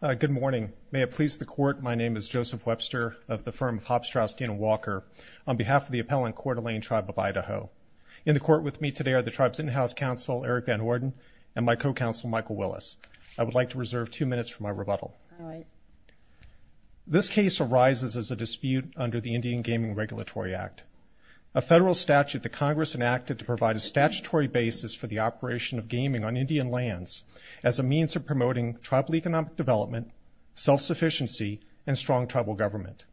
Good morning. May it please the Court, my name is Joseph Webster of the firm of Hopstrass Dan Walker on behalf of the appellant Coeur D'Alene Tribe of Idaho. In the court with me today are the tribe's in-house counsel Eric Van Horden and my co-counsel Michael Willis. I would like to reserve two minutes for my rebuttal. This case arises as a dispute under the Indian Gaming Regulatory Act, a federal statute the Congress enacted to provide a statutory basis for the operation of gaming as a means of promoting tribal economic development, self-sufficiency, and strong tribal government.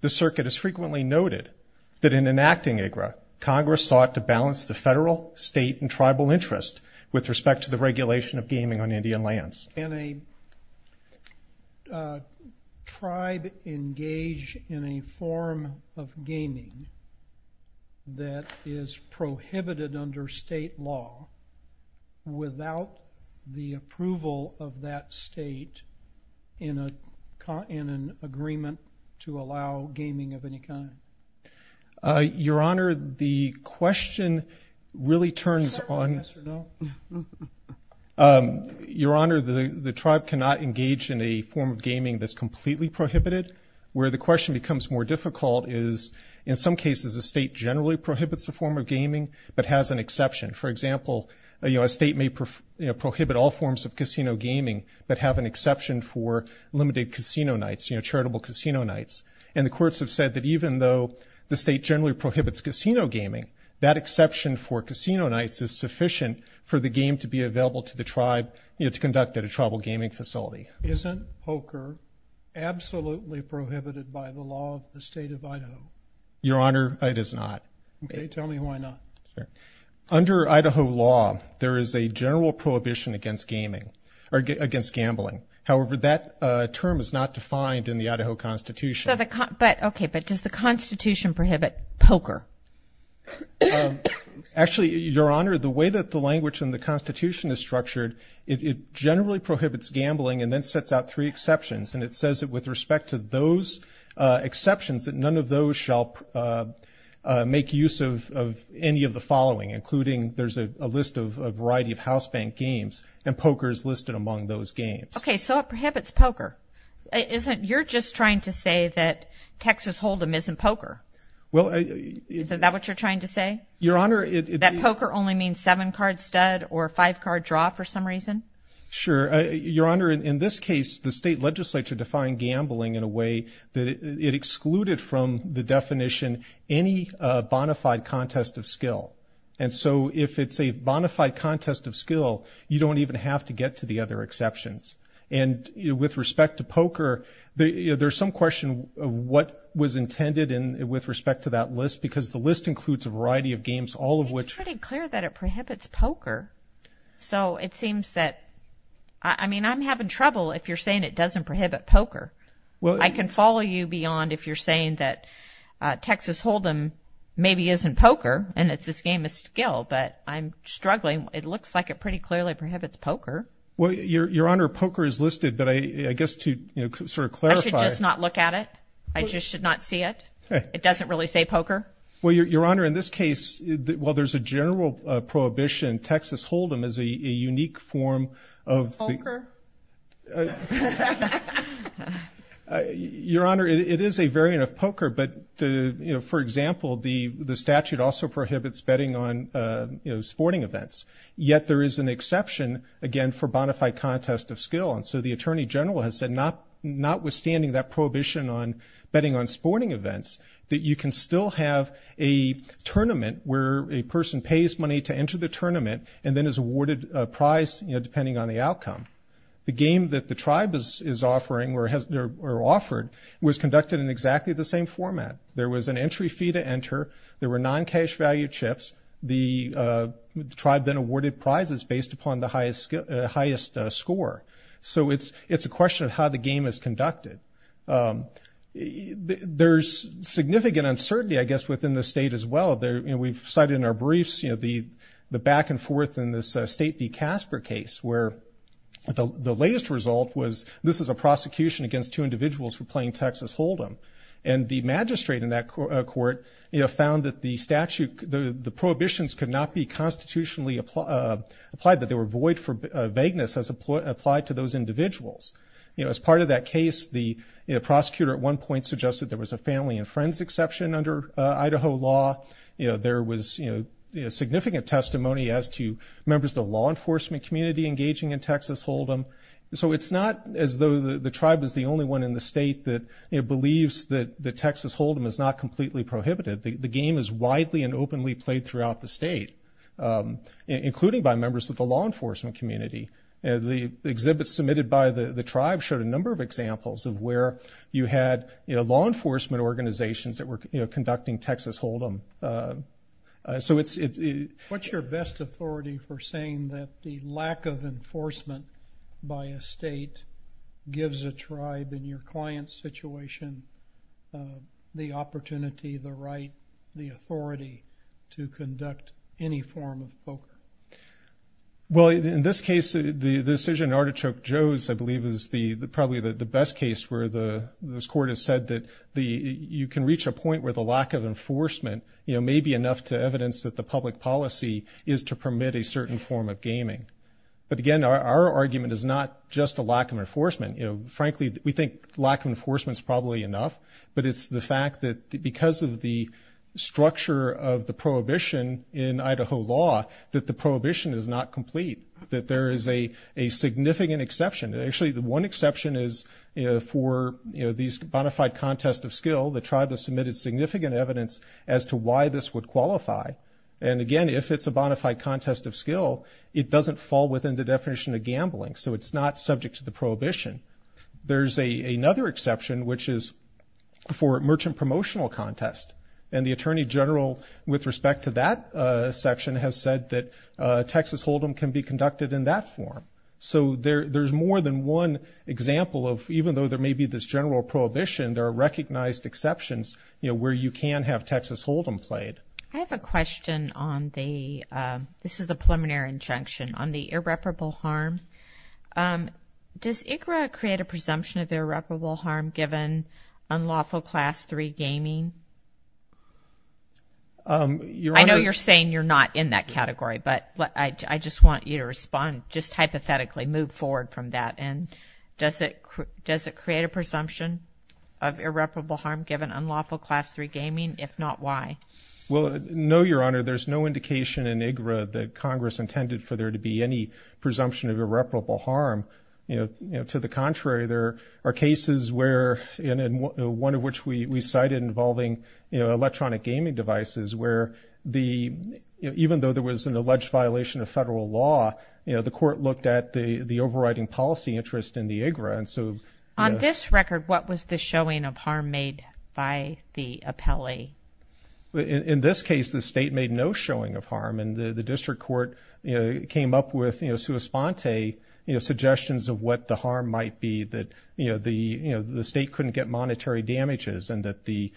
The circuit is frequently noted that in enacting IGRA, Congress sought to balance the federal, state, and tribal interest with respect to the regulation of gaming on Indian lands. Can a tribe engage in a form of gaming that is prohibited under state law without the approval of that state in an agreement to allow gaming of any kind? Your Honor, the question really turns on... Your Honor, the tribe cannot engage in a form of gaming that's completely prohibited. Where the question becomes more difficult is in some cases the state generally prohibits the form of gaming but has an exception. For example, a state may prohibit all forms of casino gaming but have an exception for limited casino nights, charitable casino nights. And the courts have said that even though the state generally prohibits casino gaming, that exception for casino nights is sufficient for the game to be available to the tribe, you know, to conduct at a tribal gaming facility. Isn't poker absolutely prohibited by the law of the state of Idaho? Your Honor, it is not. Okay, tell me why not. Under Idaho law, there is a general prohibition against gaming, or against gambling. However, that term is not defined in the Idaho Constitution. But, okay, but does the Constitution prohibit poker? Actually, Your Honor, the way that the language in the Constitution is structured, it generally prohibits gambling and then sets out three exceptions. And it says that with respect to those exceptions, that none of those shall make use of any of the following, including there's a list of a variety of house bank games and poker is listed among those games. Okay, so it prohibits poker. You're just trying to say that Texas Hold'em isn't poker. Well... Is that what you're trying to say? Your Honor, it... That poker only means seven card stud or five card draw for some reason? Sure. Your Honor, in this case, the state legislature defined gambling in a way that it excluded from the definition any bona fide contest of skill. And so if it's a bona fide contest of skill, you don't even have to get to the other exceptions. And with respect to poker, there's some question of what was intended and with respect to that list, because the list includes a variety of games, all of which... It's pretty clear that it prohibits poker. So it seems that... I mean, I'm having trouble if you're saying it doesn't prohibit poker. Well, I can follow you beyond if you're saying that Texas Hold'em maybe isn't poker and it's this game of skill, but I'm struggling. It looks like it pretty clearly prohibits poker. Well, Your Honor, poker is listed, but I guess to sort of clarify... I should just not look at it? I just should not see it? It doesn't really say poker? Well, Your Honor, while there's a general prohibition, Texas Hold'em is a unique form of... Poker? Your Honor, it is a variant of poker, but for example, the statute also prohibits betting on sporting events. Yet there is an exception, again, for bona fide contest of skill. And so the Attorney General has said, not withstanding that prohibition on betting on sporting events, that you can still have a tournament where a person pays money to enter the tournament and then is awarded a prize depending on the outcome. The game that the tribe is offering or offered was conducted in exactly the same format. There was an entry fee to enter. There were non-cash value chips. The tribe then awarded prizes based upon the highest score. So it's a question of how the game is conducted. There's significant uncertainty, I guess, within the state as well. We've cited in our briefs, you know, the back and forth in this State v. Casper case where the latest result was this is a prosecution against two individuals for playing Texas Hold'em. And the magistrate in that court, you know, found that the statute, the prohibitions could not be constitutionally applied, that they were void for vagueness as applied to those individuals. You know, as part of that case, the prosecutor at one point suggested there was a family and friends exception under Idaho law. You know, there was, you know, significant testimony as to members of the law enforcement community engaging in Texas Hold'em. So it's not as though the tribe is the only one in the state that believes that the Texas Hold'em is not completely prohibited. The game is widely and openly played throughout the state, including by members of the law enforcement community. The exhibits submitted by the tribe showed a number of examples of where you had, you know, law enforcement organizations that were, you know, conducting Texas Hold'em. So it's... What's your best authority for saying that the lack of enforcement by a state gives a tribe in your client's situation the opportunity, the right, the authority to conduct any form of poker? Well, in this case, the decision in Artichoke Joe's, I believe, is the... probably the best case where the... this court has said that the... you can reach a point where the lack of enforcement, you know, may be enough to evidence that the public policy is to permit a certain form of gaming. But again, our argument is not just a lack of enforcement. You know, frankly, we think lack of enforcement is probably enough, but it's the fact that because of the structure of the prohibition is not complete, that there is a significant exception. Actually, the one exception is for, you know, these bona fide contest of skill. The tribe has submitted significant evidence as to why this would qualify. And again, if it's a bona fide contest of skill, it doesn't fall within the definition of gambling. So it's not subject to the prohibition. There's another exception, which is for merchant promotional contest. And the Attorney General, with respect to that section, has said that Texas Hold'em can be conducted in that form. So there's more than one example of... even though there may be this general prohibition, there are recognized exceptions, you know, where you can have Texas Hold'em played. I have a question on the... this is a preliminary injunction... on the irreparable harm. Does ICRA create a presumption of irreparable harm given unlawful Class III gaming? I know you're saying you're not in that category, but I just want you to respond. Just hypothetically move forward from that. And does it... does it create a presumption of irreparable harm given unlawful Class III gaming? If not, why? Well, no, Your Honor. There's no indication in ICRA that Congress intended for there to be any presumption of irreparable harm. You know, to the side involving, you know, electronic gaming devices, where the... even though there was an alleged violation of federal law, you know, the court looked at the... the overriding policy interest in the ICRA. And so... On this record, what was the showing of harm made by the appellee? In this case, the state made no showing of harm. And the District Court, you know, came up with, you know, sua sponte, you know, suggestions of what the harm might be that, you know, the... you know, the state couldn't get monetary damages, and that the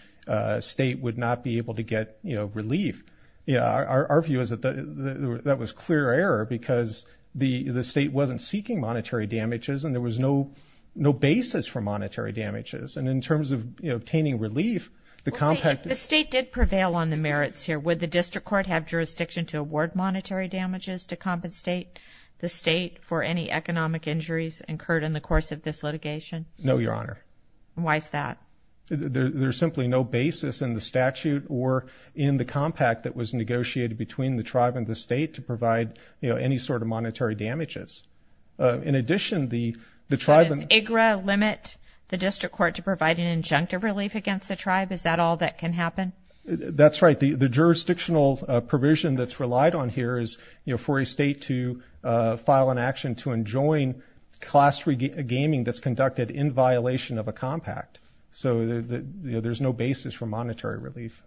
state would not be able to get, you know, relief. Yeah, our view is that that was clear error because the... the state wasn't seeking monetary damages, and there was no... no basis for monetary damages. And in terms of, you know, obtaining relief, the compact... If the state did prevail on the merits here, would the District Court have jurisdiction to award monetary damages to compensate the state for any economic injuries incurred in the course of this litigation? No, Your Honor. Why is that? There's simply no basis in the statute or in the compact that was negotiated between the tribe and the state to provide, you know, any sort of monetary damages. In addition, the tribe... Does ICRA limit the District Court to provide an injunctive relief against the tribe? Is that all that can happen? That's right. The jurisdictional provision that's relied on here is, you know, for a state to file an action to cost regaming that's conducted in violation of a compact. So, you know, there's no basis for monetary relief.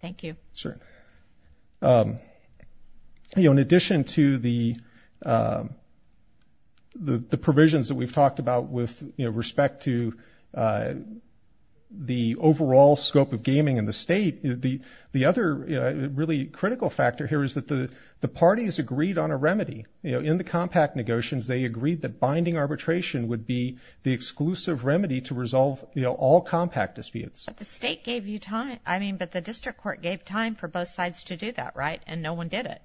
Thank you. Sure. You know, in addition to the... the provisions that we've talked about with, you know, respect to the overall scope of gaming in the state, the... the other really critical factor here is that the compact negotiations, they agreed that binding arbitration would be the exclusive remedy to resolve, you know, all compact disputes. But the state gave you time. I mean, but the District Court gave time for both sides to do that, right? And no one did it.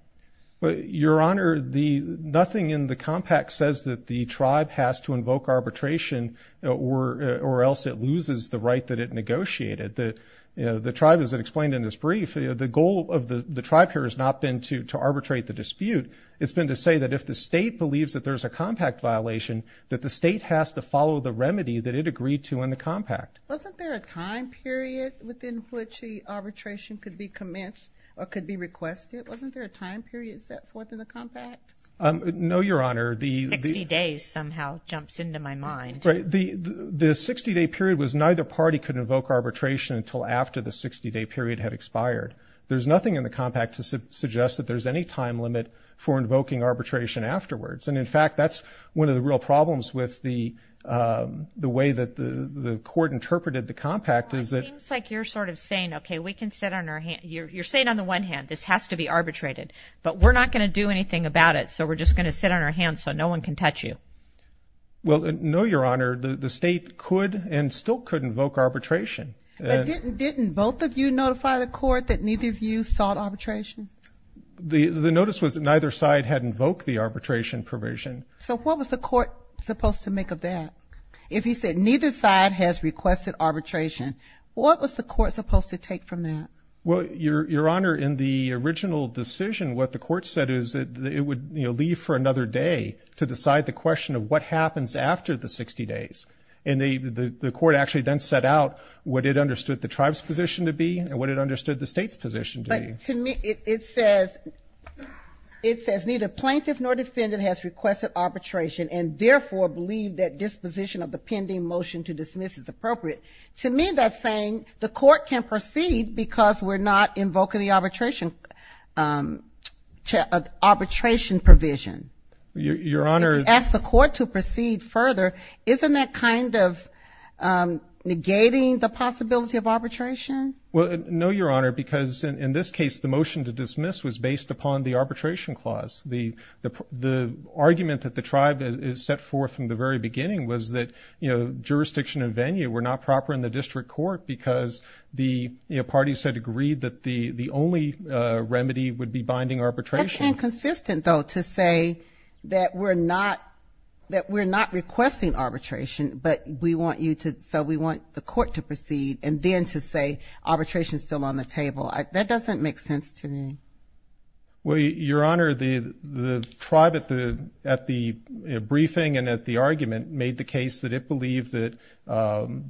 But, Your Honor, the... nothing in the compact says that the tribe has to invoke arbitration or... or else it loses the right that it negotiated. The... the tribe, as it explained in this brief, the goal of the... the tribe here has not been to... to arbitrate the dispute. It's been to say that if the state believes that there's a compact violation, that the state has to follow the remedy that it agreed to in the compact. Wasn't there a time period within which the arbitration could be commenced or could be requested? Wasn't there a time period set forth in the compact? No, Your Honor. The... 60 days somehow jumps into my mind. Right. The... the 60-day period was neither party could invoke arbitration until after the 60-day period had expired. There's nothing in the compact to suggest that there's any time limit for invoking arbitration afterwards. And in fact, that's one of the real problems with the... the way that the... the court interpreted the compact is that... Well, it seems like you're sort of saying, okay, we can sit on our hand... you're... you're saying on the one hand, this has to be arbitrated. But we're not going to do anything about it, so we're just going to sit on our hands so no one can touch you. Well, no, Your Honor. The... the state could and still could invoke arbitration. But didn't... didn't both of you notify the court that neither of you sought arbitration? The... the notice was that neither side had invoked the arbitration provision. So what was the court supposed to make of that? If he said neither side has requested arbitration, what was the court supposed to take from that? Well, Your... Your Honor, in the original decision, what the court said is that it would, you know, leave for another day to decide the question of what happens after the 60 days. And the... the court actually then set out what it understood the tribe's position to be and what it understood the state's position to be. But to me, it says... it says neither plaintiff nor defendant has requested arbitration and therefore believe that disposition of the pending motion to dismiss is appropriate. To me, that's saying the court can proceed because we're not invoking the arbitration... arbitration provision. Your Honor, for the court to proceed further, isn't that kind of negating the possibility of arbitration? Well, no, Your Honor, because in this case, the motion to dismiss was based upon the arbitration clause. The... the... the argument that the tribe has set forth from the very beginning was that, you know, jurisdiction and venue were not proper in the district court because the parties had agreed that the... the only remedy would be binding arbitration. That's inconsistent, though, to say that we're not requesting arbitration, but we want you to... so we want the court to proceed and then to say arbitration is still on the table. That doesn't make sense to me. Well, Your Honor, the... the tribe at the... at the briefing and at the argument made the case that it believed that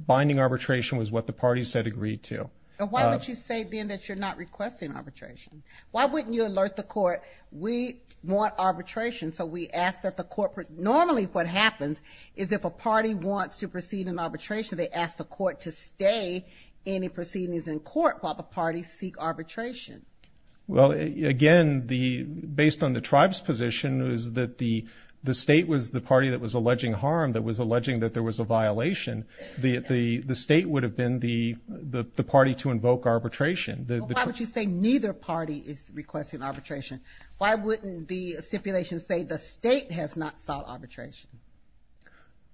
binding arbitration was what the parties had agreed to. And why would you say then that you're not requesting arbitration? Why wouldn't you alert the court, we want arbitration, so we ask that the corporate normally what happens is if a party wants to proceed in arbitration, they ask the court to stay any proceedings in court while the parties seek arbitration. Well, again, the... based on the tribe's position is that the... the state was the party that was alleging harm, that was alleging that there was a violation. The... the... the state would have been the... the... the party to invoke arbitration. Why would you say neither party is requesting arbitration? Why wouldn't the stipulation say the state has not sought arbitration?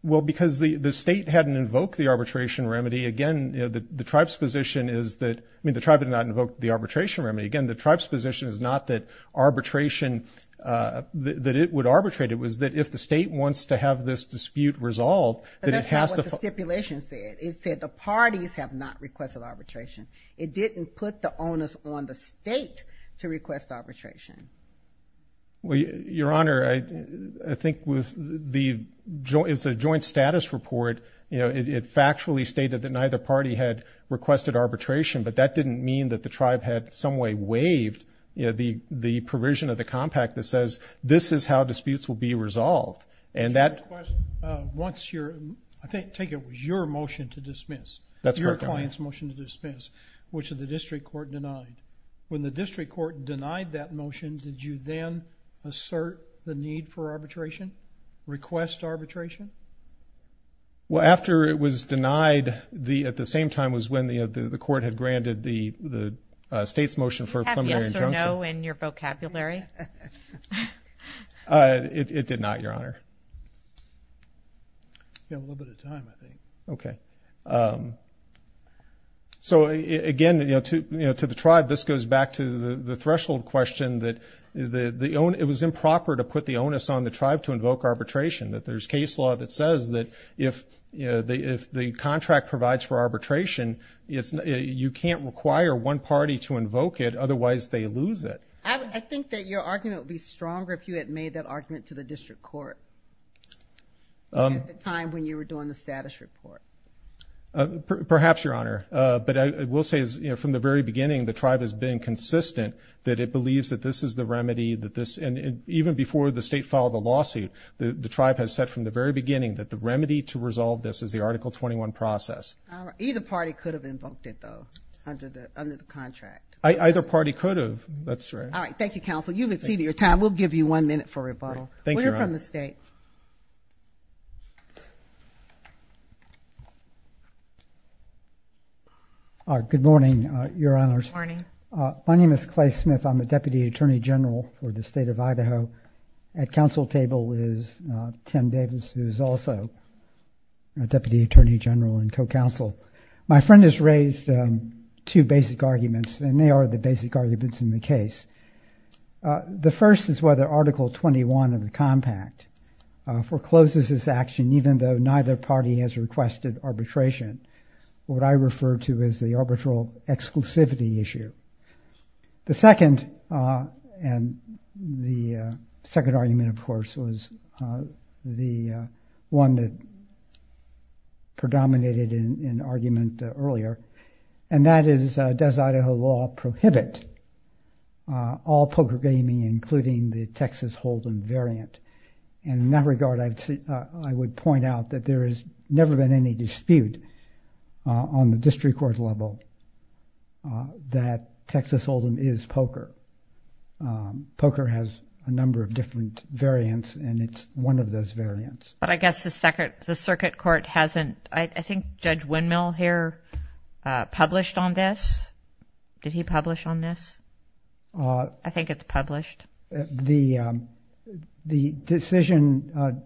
Well, because the... the state hadn't invoked the arbitration remedy. Again, the tribe's position is that... I mean, the tribe did not invoke the arbitration remedy. Again, the tribe's position is not that arbitration... that it would arbitrate. It was that if the state wants to have this dispute resolved, that it has to... That's not what the stipulation said. It said the parties have not requested arbitration. It didn't put the onus on the state to Your Honor, I think with the joint... it's a joint status report, you know, it... it factually stated that neither party had requested arbitration, but that didn't mean that the tribe had some way waived, you know, the... the provision of the compact that says this is how disputes will be resolved. And that... Once your... I think... take it was your motion to dismiss. That's correct, Your Honor. Your client's motion to dismiss, which the district court denied. When the district court denied that motion, did you then assert the need for arbitration? Request arbitration? Well, after it was denied, the... at the same time was when the... the court had granted the... the state's motion for a plenary injunction. Did you have yes or no in your vocabulary? It did not, Your Honor. You have a little bit of time, I think. Okay. So, again, you know, to... you know, to the tribe, this goes back to the... the threshold question that the... the own... it was improper to put the onus on the tribe to invoke arbitration. That there's case law that says that if the... if the contract provides for arbitration, it's... you can't require one party to invoke it, otherwise they lose it. I think that your argument would be stronger if you had made that argument to the district court at the time when you were doing the status report. Perhaps, Your Honor, but I will say is, you know, from the very beginning, the tribe has been consistent that it believes that this is the remedy that this... and even before the state filed the lawsuit, the tribe has said from the very beginning that the remedy to resolve this is the Article 21 process. Either party could have invoked it, though, under the... under the contract. Either party could have. That's right. All right. Thank you, Counsel. You've exceeded your time. We'll give you one minute for rebuttal. Thank you, Your Honor. We're from the state. All right. Good morning, Your Honors. Good morning. My name is Clay Smith. I'm the Deputy Attorney General for the state of Idaho. At counsel table is Tim Davis, who is also a Deputy Attorney General and co-counsel. My friend has raised two basic arguments, and they are the basic arguments in the case. The first is whether Article 21 of the Compact forecloses this action, even though neither party has requested arbitration. What I refer to is the arbitral exclusivity issue. The second, and the second argument, of course, was the one that predominated in an argument earlier, and that is, does Idaho law prohibit all Texas Holden variant? And in that regard, I would point out that there has never been any dispute on the district court level that Texas Holden is POCR. POCR has a number of different variants, and it's one of those variants. But I guess the circuit court hasn't... I think Judge Windmill here published on this. Did he publish on this? I think it's published. The decision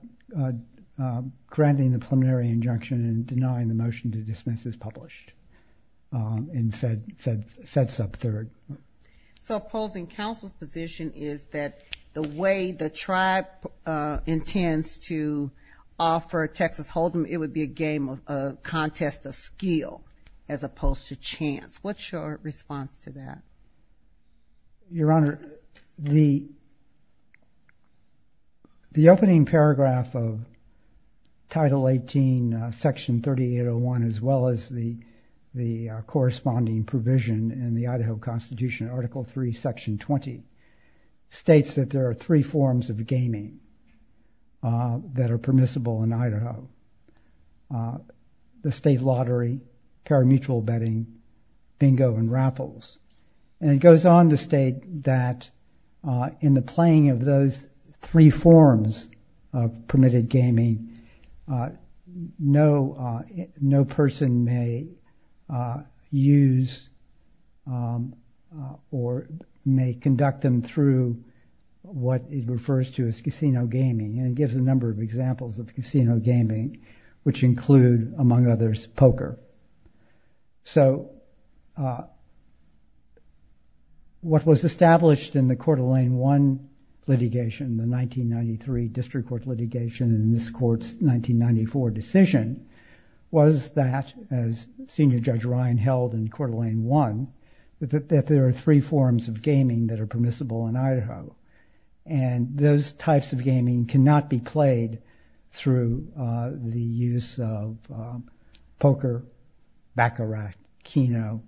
granting the preliminary injunction and denying the motion to dismiss is published in FedSub 3rd. So opposing counsel's position is that the way the tribe intends to offer Texas Holden, it would be a game, a contest of skill, as opposed to chance. What's your response to that? Your Honor, the opening paragraph of Title 18, Section 3801, as well as the corresponding provision in the Idaho Constitution, Article 3, Section 20, states that there are three forms of gaming that are permissible in Idaho. The state lottery, parimutuel betting, bingo, and raffles. And it goes on to state that in the playing of those three forms of permitted gaming, no person may use or may conduct them through what it refers to as casino gaming. And it gives a definition of casino gaming, which include, among others, poker. So what was established in the Coeur d'Alene 1 litigation, the 1993 district court litigation, in this court's 1994 decision, was that, as Senior Judge Ryan held in Coeur d'Alene 1, that there are three forms of gaming that are permissible in Idaho. And those types of the use of poker, baccarat, keno,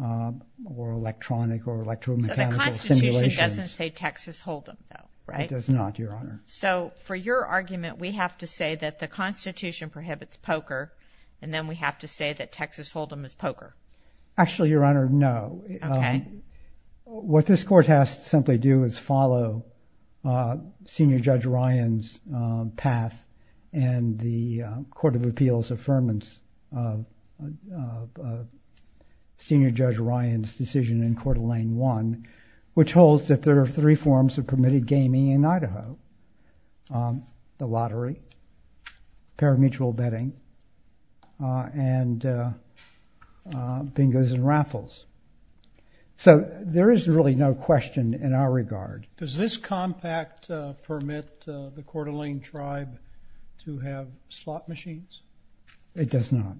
or electronic or electromechanical simulations. So the Constitution doesn't say Texas Hold'em, though, right? It does not, Your Honor. So for your argument, we have to say that the Constitution prohibits poker, and then we have to say that Texas Hold'em is poker. Actually, Your Honor, no. Okay. What this court has to simply do is follow Senior Judge Ryan's decision in Coeur d'Alene 1, which holds that there are three forms of permitted gaming in Idaho. The lottery, parimutuel betting, and bingos and raffles. So there is really no question in our slot machines? It does not.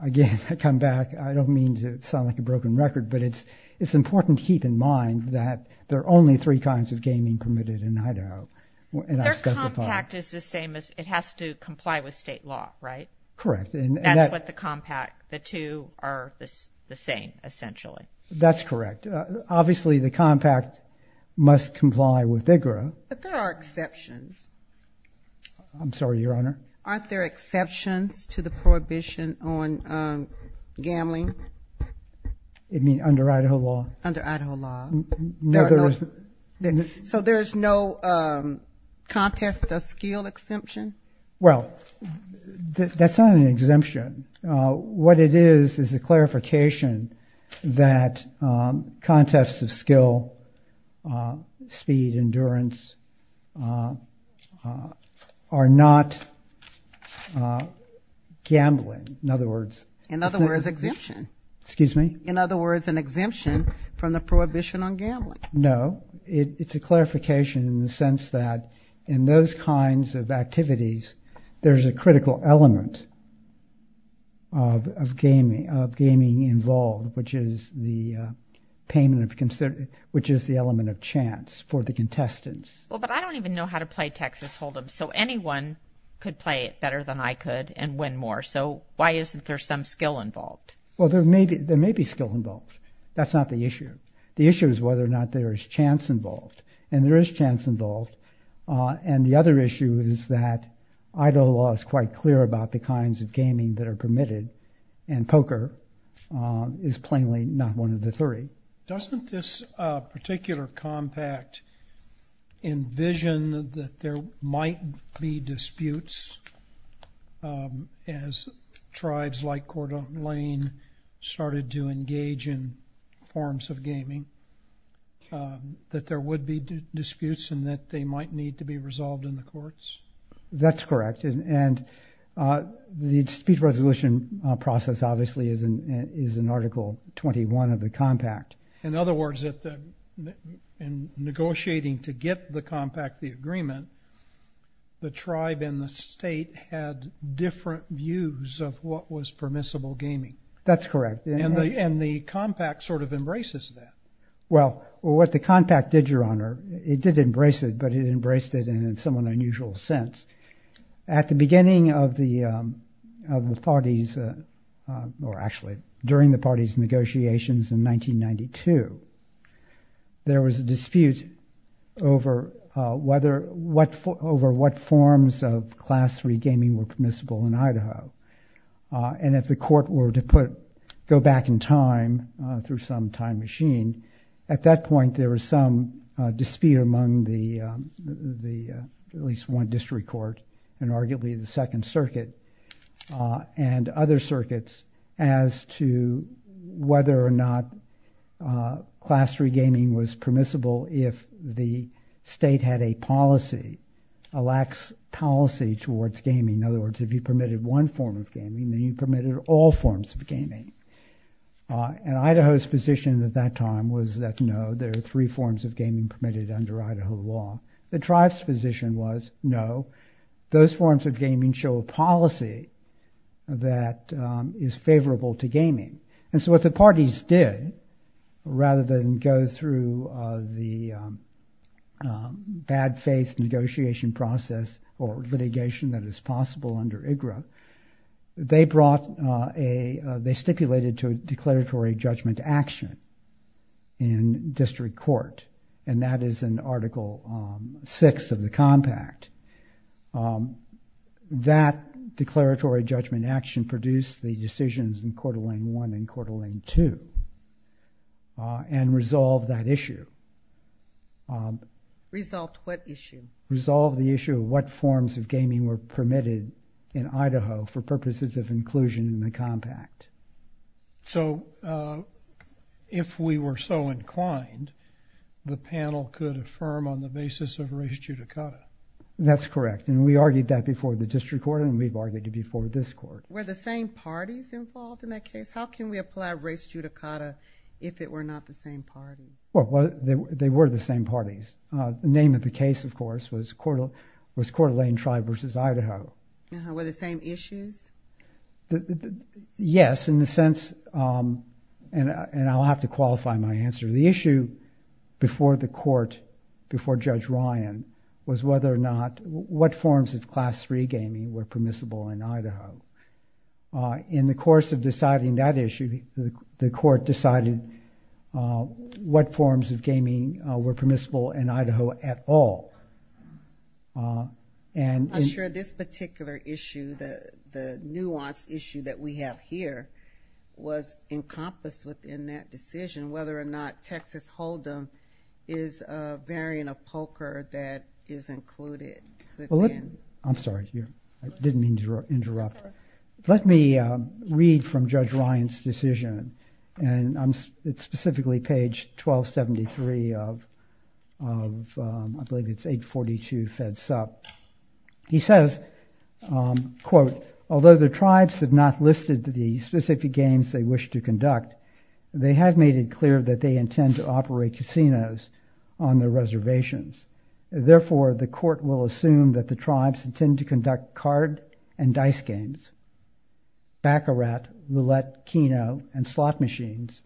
Again, I come back, I don't mean to sound like a broken record, but it's important to keep in mind that there are only three kinds of gaming permitted in Idaho. Their compact is the same as, it has to comply with state law, right? Correct. And that's what the compact, the two are the same, essentially. That's correct. Obviously, the compact must comply with IGRA. But there are exceptions. I'm sorry, Your Honor? Aren't there exceptions to the prohibition on gambling? You mean under Idaho law? Under Idaho law. So there is no contest of skill exemption? Well, that's not an exemption. What it is, is a clarification that contests of skill, speed, endurance, are not gambling. In other words, In other words, exemption. Excuse me? In other words, an exemption from the prohibition on gambling. No, it's a clarification in the sense that in those kinds of activities, there's a gaming involved, which is the payment of, which is the element of chance for the contestants. Well, but I don't even know how to play Texas Hold'em, so anyone could play it better than I could and win more. So why isn't there some skill involved? Well, there may be skill involved. That's not the issue. The issue is whether or not there is chance involved. And there is chance involved. And the other issue is that Idaho law is quite clear about the kinds of gaming that are permitted, and poker is plainly not one of the three. Doesn't this particular compact envision that there might be disputes as tribes like Cordova Lane started to engage in forms of gaming, that there would be disputes and that they might need to be resolved in the courts? That's correct. And the dispute resolution process, obviously, is in Article 21 of the compact. In other words, in negotiating to get the compact the agreement, the tribe and the state had different views of what was permissible gaming. That's correct. And the compact sort of embraces that. Well, what the compact did, Your Honor, it did embrace it, but it embraced it in some unusual sense. At the beginning of the parties, or actually during the parties' negotiations in 1992, there was a dispute over what forms of class three gaming were permissible in Idaho. And if the court were to go back in time through some time machine, at that point there was some dispute among at least one district court and arguably the Second Circuit and other circuits as to whether or not class three gaming was permissible if the state had a policy, a lax policy towards gaming. In other words, if you permitted one form of gaming, then you permitted all forms of gaming. And Idaho's position at that time was that, no, there are three forms of gaming permitted under Idaho law. The tribe's position was, no, those forms of gaming show a policy that is favorable to gaming. And so what the parties did, rather than go through the bad faith negotiation process or litigation that is possible under IGRA, they brought a, they stipulated to a declaratory judgment action in district court. And that is in Article VI of the compact. That declaratory judgment action produced the decisions in Court of Lange 1 and Court of Lange 2 and resolved that issue. Resolved what issue? Resolved the issue of what forms of gaming were permitted in Idaho for purposes of inclusion in the compact. So, if we were so inclined, the panel could affirm on the basis of race judicata? That's correct. And we argued that before the district court and we've argued it before this court. Were the same parties involved in that case? How can we apply race judicata if it were not the same parties? They were the same parties. The name of the case, of course, was Court of Lange Tribe versus Idaho. Were the same issues? Yes, in the sense, and I'll have to qualify my answer. The issue before the court, before Judge Ryan, was whether or not, what forms of Class III gaming were permissible in Idaho. In the course of deciding that issue, the court decided what forms of gaming were permissible in Idaho at all. I'm not sure this particular issue, the nuanced issue that we have here, was encompassed within that decision, whether or not Texas Hold'em is a variant of poker that is included within. I'm sorry, I didn't mean to interrupt. Let me read from Judge Ryan's decision. It's specifically page 1273 of, I believe it's 842 Fed Sup. He says, quote, although the tribes have not listed the specific games they wish to conduct, they have made it clear that they intend to conduct card and dice games, baccarat, roulette, keno, and slot machines,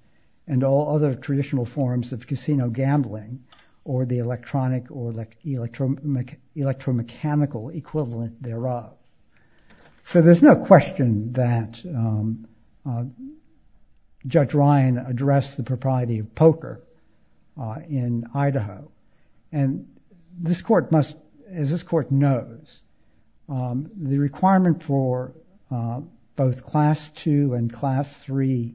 and all other traditional forms of casino gambling or the electronic or electromechanical equivalent thereof. So there's no question that Judge Ryan addressed the propriety of poker in Idaho. And this the requirement for both Class II and Class III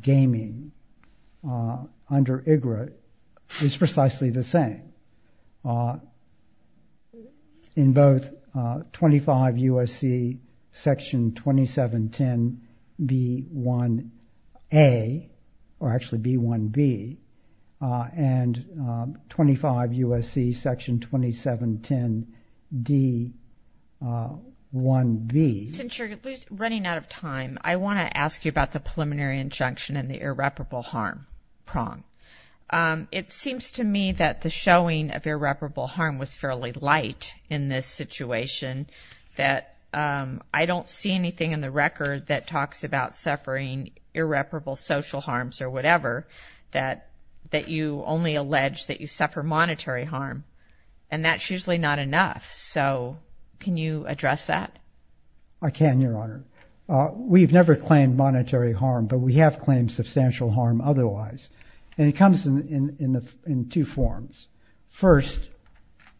gaming under IGRA is precisely the same. In both 25 U.S.C. Section 2710B1A, or actually B1B, and 25 U.S.C. Section 2710D1B. Since you're running out of time, I want to ask you about the preliminary injunction and the irreparable harm prong. It seems to me that the showing of irreparable harm was fairly light in this situation, that I don't see anything in the record that talks about suffering irreparable social harms or whatever, that you only allege that you suffer monetary harm. And that's usually not enough. So can you address that? I can, Your Honor. We've never claimed monetary harm, but we have claimed substantial harm otherwise. And it comes in two forms. First,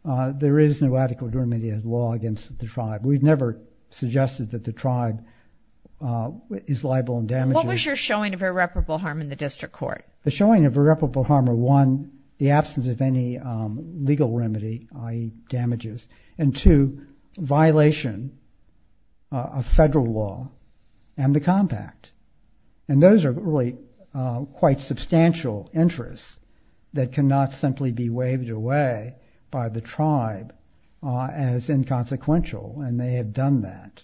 there is no adequate remedial law against the tribe. We've never suggested that the tribe is liable in damages. What was your showing of irreparable harm in the district court? The showing of irreparable harm are, one, the absence of any legal remedy, i.e. damages, and two, violation of federal law and the compact. And those are really quite substantial interests that cannot simply be waived away by the tribe as inconsequential, and they have done that.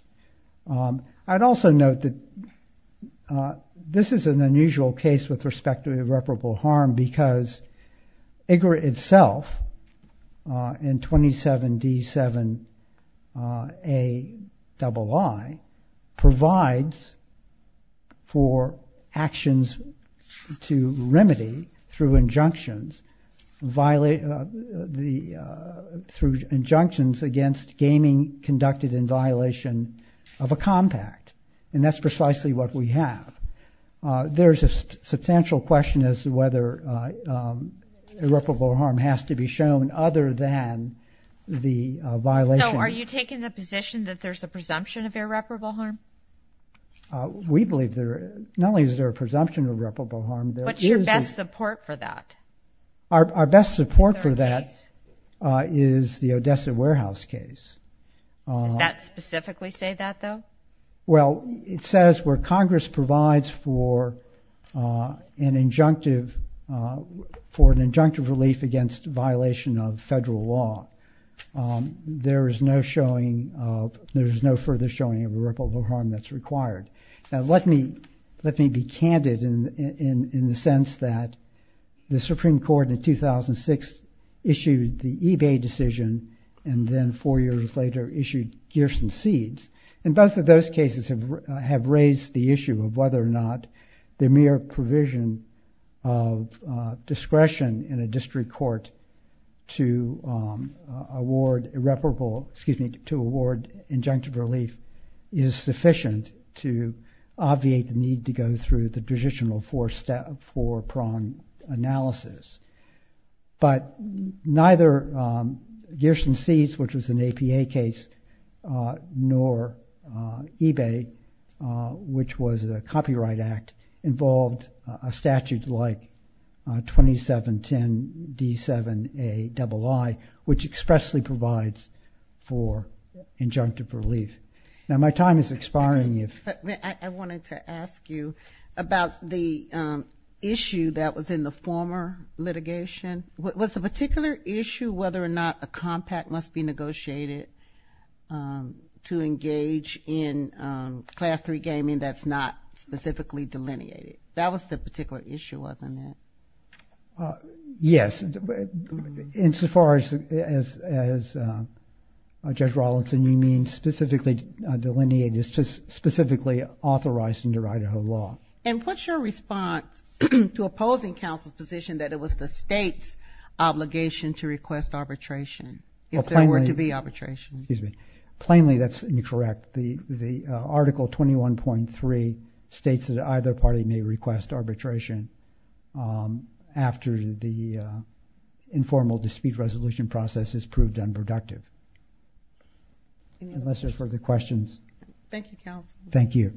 I'd also note that this is an unusual case with respect to irreparable harm because IGRA itself, in 27D7Aii, provides for actions to remedy through injunctions against gaming conducted in violation of a compact, and that's precisely what we have. There's a substantial question as to whether irreparable harm has to be shown other than the violation. So are you taking the position that there's a presumption of irreparable harm? We believe there is. Not only is there a presumption of irreparable harm, there is a... What's your best support for that? Our best support for that is the Odessa Warehouse case. Does that specifically say that, though? Well, it says where Congress provides for an injunctive relief against violation of federal law, there is no further showing of irreparable harm that's required. Now, let me be candid in the sense that the Supreme Court in 2006 issued the eBay decision, and then four years later issued Gears and Seeds, and both of those cases have raised the issue of whether or not the mere provision of discretion in a district court to award injunctive relief is sufficient to obviate the need to go through the traditional four-prong analysis. But neither Gears and Seeds, which was an APA case, nor eBay, which was a copyright act, involved a statute like 2710D7AAI, which expressly provides for injunctive relief. Now, my time is expiring if... I wanted to ask you about the issue that was in the former litigation. Was the particular issue whether or not a compact must be negotiated to engage in Class III gaming that's not specifically delineated? That was the particular issue, wasn't it? Yes. Insofar as, Judge Rawlinson, you mean specifically delineated, specifically authorized under Idaho law. And what's your response to opposing counsel's position that it was the state's obligation to request arbitration if there were to be arbitration? Plainly, that's incorrect. The Article 21.3 states that either party may request arbitration after the informal dispute resolution process is proved unproductive. Unless there are further questions. Thank you, counsel. Thank you.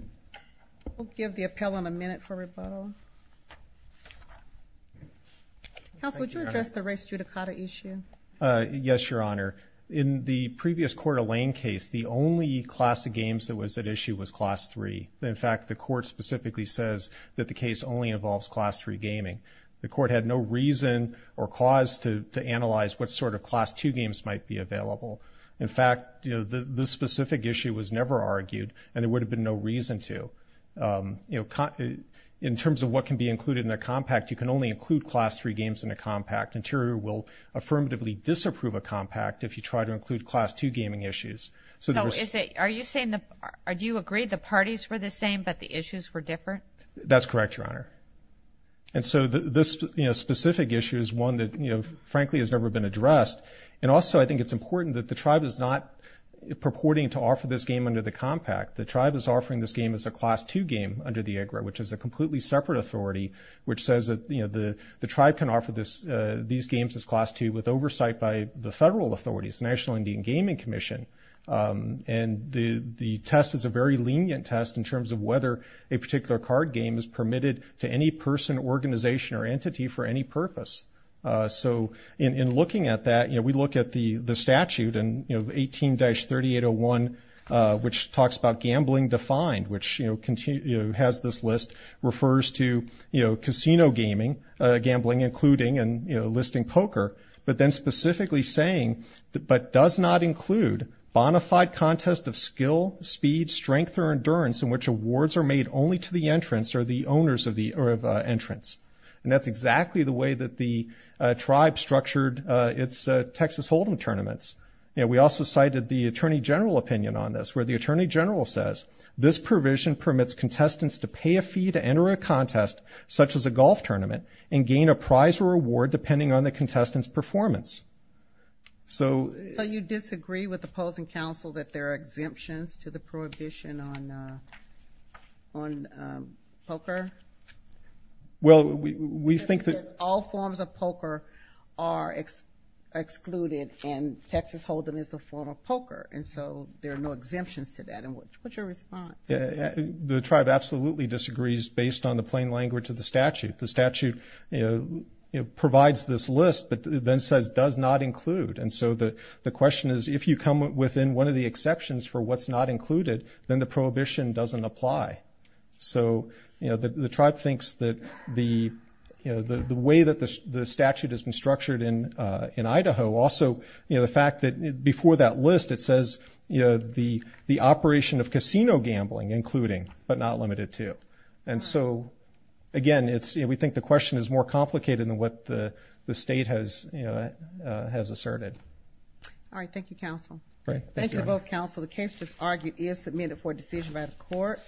We'll give the appellant a minute for rebuttal. Counsel, would you address the race judicata issue? Yes, Your Honor. In the previous Court of Lane case, the only class of games that was at issue was Class III. In fact, the court specifically says that the case only involves Class III gaming. The court had no reason or cause to analyze what sort of Class II games might be available. In fact, this specific issue was never argued, and there would have been no reason to. In terms of what can be included in a compact, you can only include Class III games in a compact. Interior will affirmatively disapprove a compact if you try to include Class II gaming issues. Do you agree the parties were the same but the issues were different? That's correct, Your Honor. And so this specific issue is one that, frankly, has never been addressed. And also I think it's important that the tribe is not purporting to offer this game under the compact. The tribe is offering this game as a Class II game under the IGRA, which is a completely separate authority, which says that the tribe can offer these games as Class II with oversight by the federal authorities, the National Indian Gaming Commission. And the test is a very lenient test in terms of whether a particular card game is permitted to any person, organization, or entity for any purpose. So in looking at that, we look at the statute, 18-3801, which talks about gambling defined, which has this list, refers to casino gaming, gambling including and listing poker, but then specifically saying, but does not include bona fide contest of skill, speed, strength, or endurance in which awards are made only to the entrance or the owners of the entrance. And that's exactly the way that the tribe structured its Texas Hold'em tournaments. You know, we also cited the Attorney General opinion on this, where the Attorney General says, this provision permits contestants to pay a fee to enter a contest such as a golf tournament and gain a prize or award depending on the contestant's performance. So you disagree with opposing counsel that there are exemptions to the prohibition on poker? Well, we think that all forms of poker are excluded, and Texas Hold'em is a form of poker. And so there are no exemptions to that. And what's your response? The tribe absolutely disagrees based on the plain language of the statute. The statute provides this list, but then says does not include. And so the question is, if you come within one of the exceptions for what's not included, then the prohibition doesn't apply. So the tribe thinks that the way that the statute has been structured in Idaho, also the fact that before that list it says the operation of casino gambling including, but not limited to. And so, again, we think the question is more complicated than what the state has asserted. All right, thank you, counsel. Thank you to both counsel. The case just argued is submitted for decision by the court.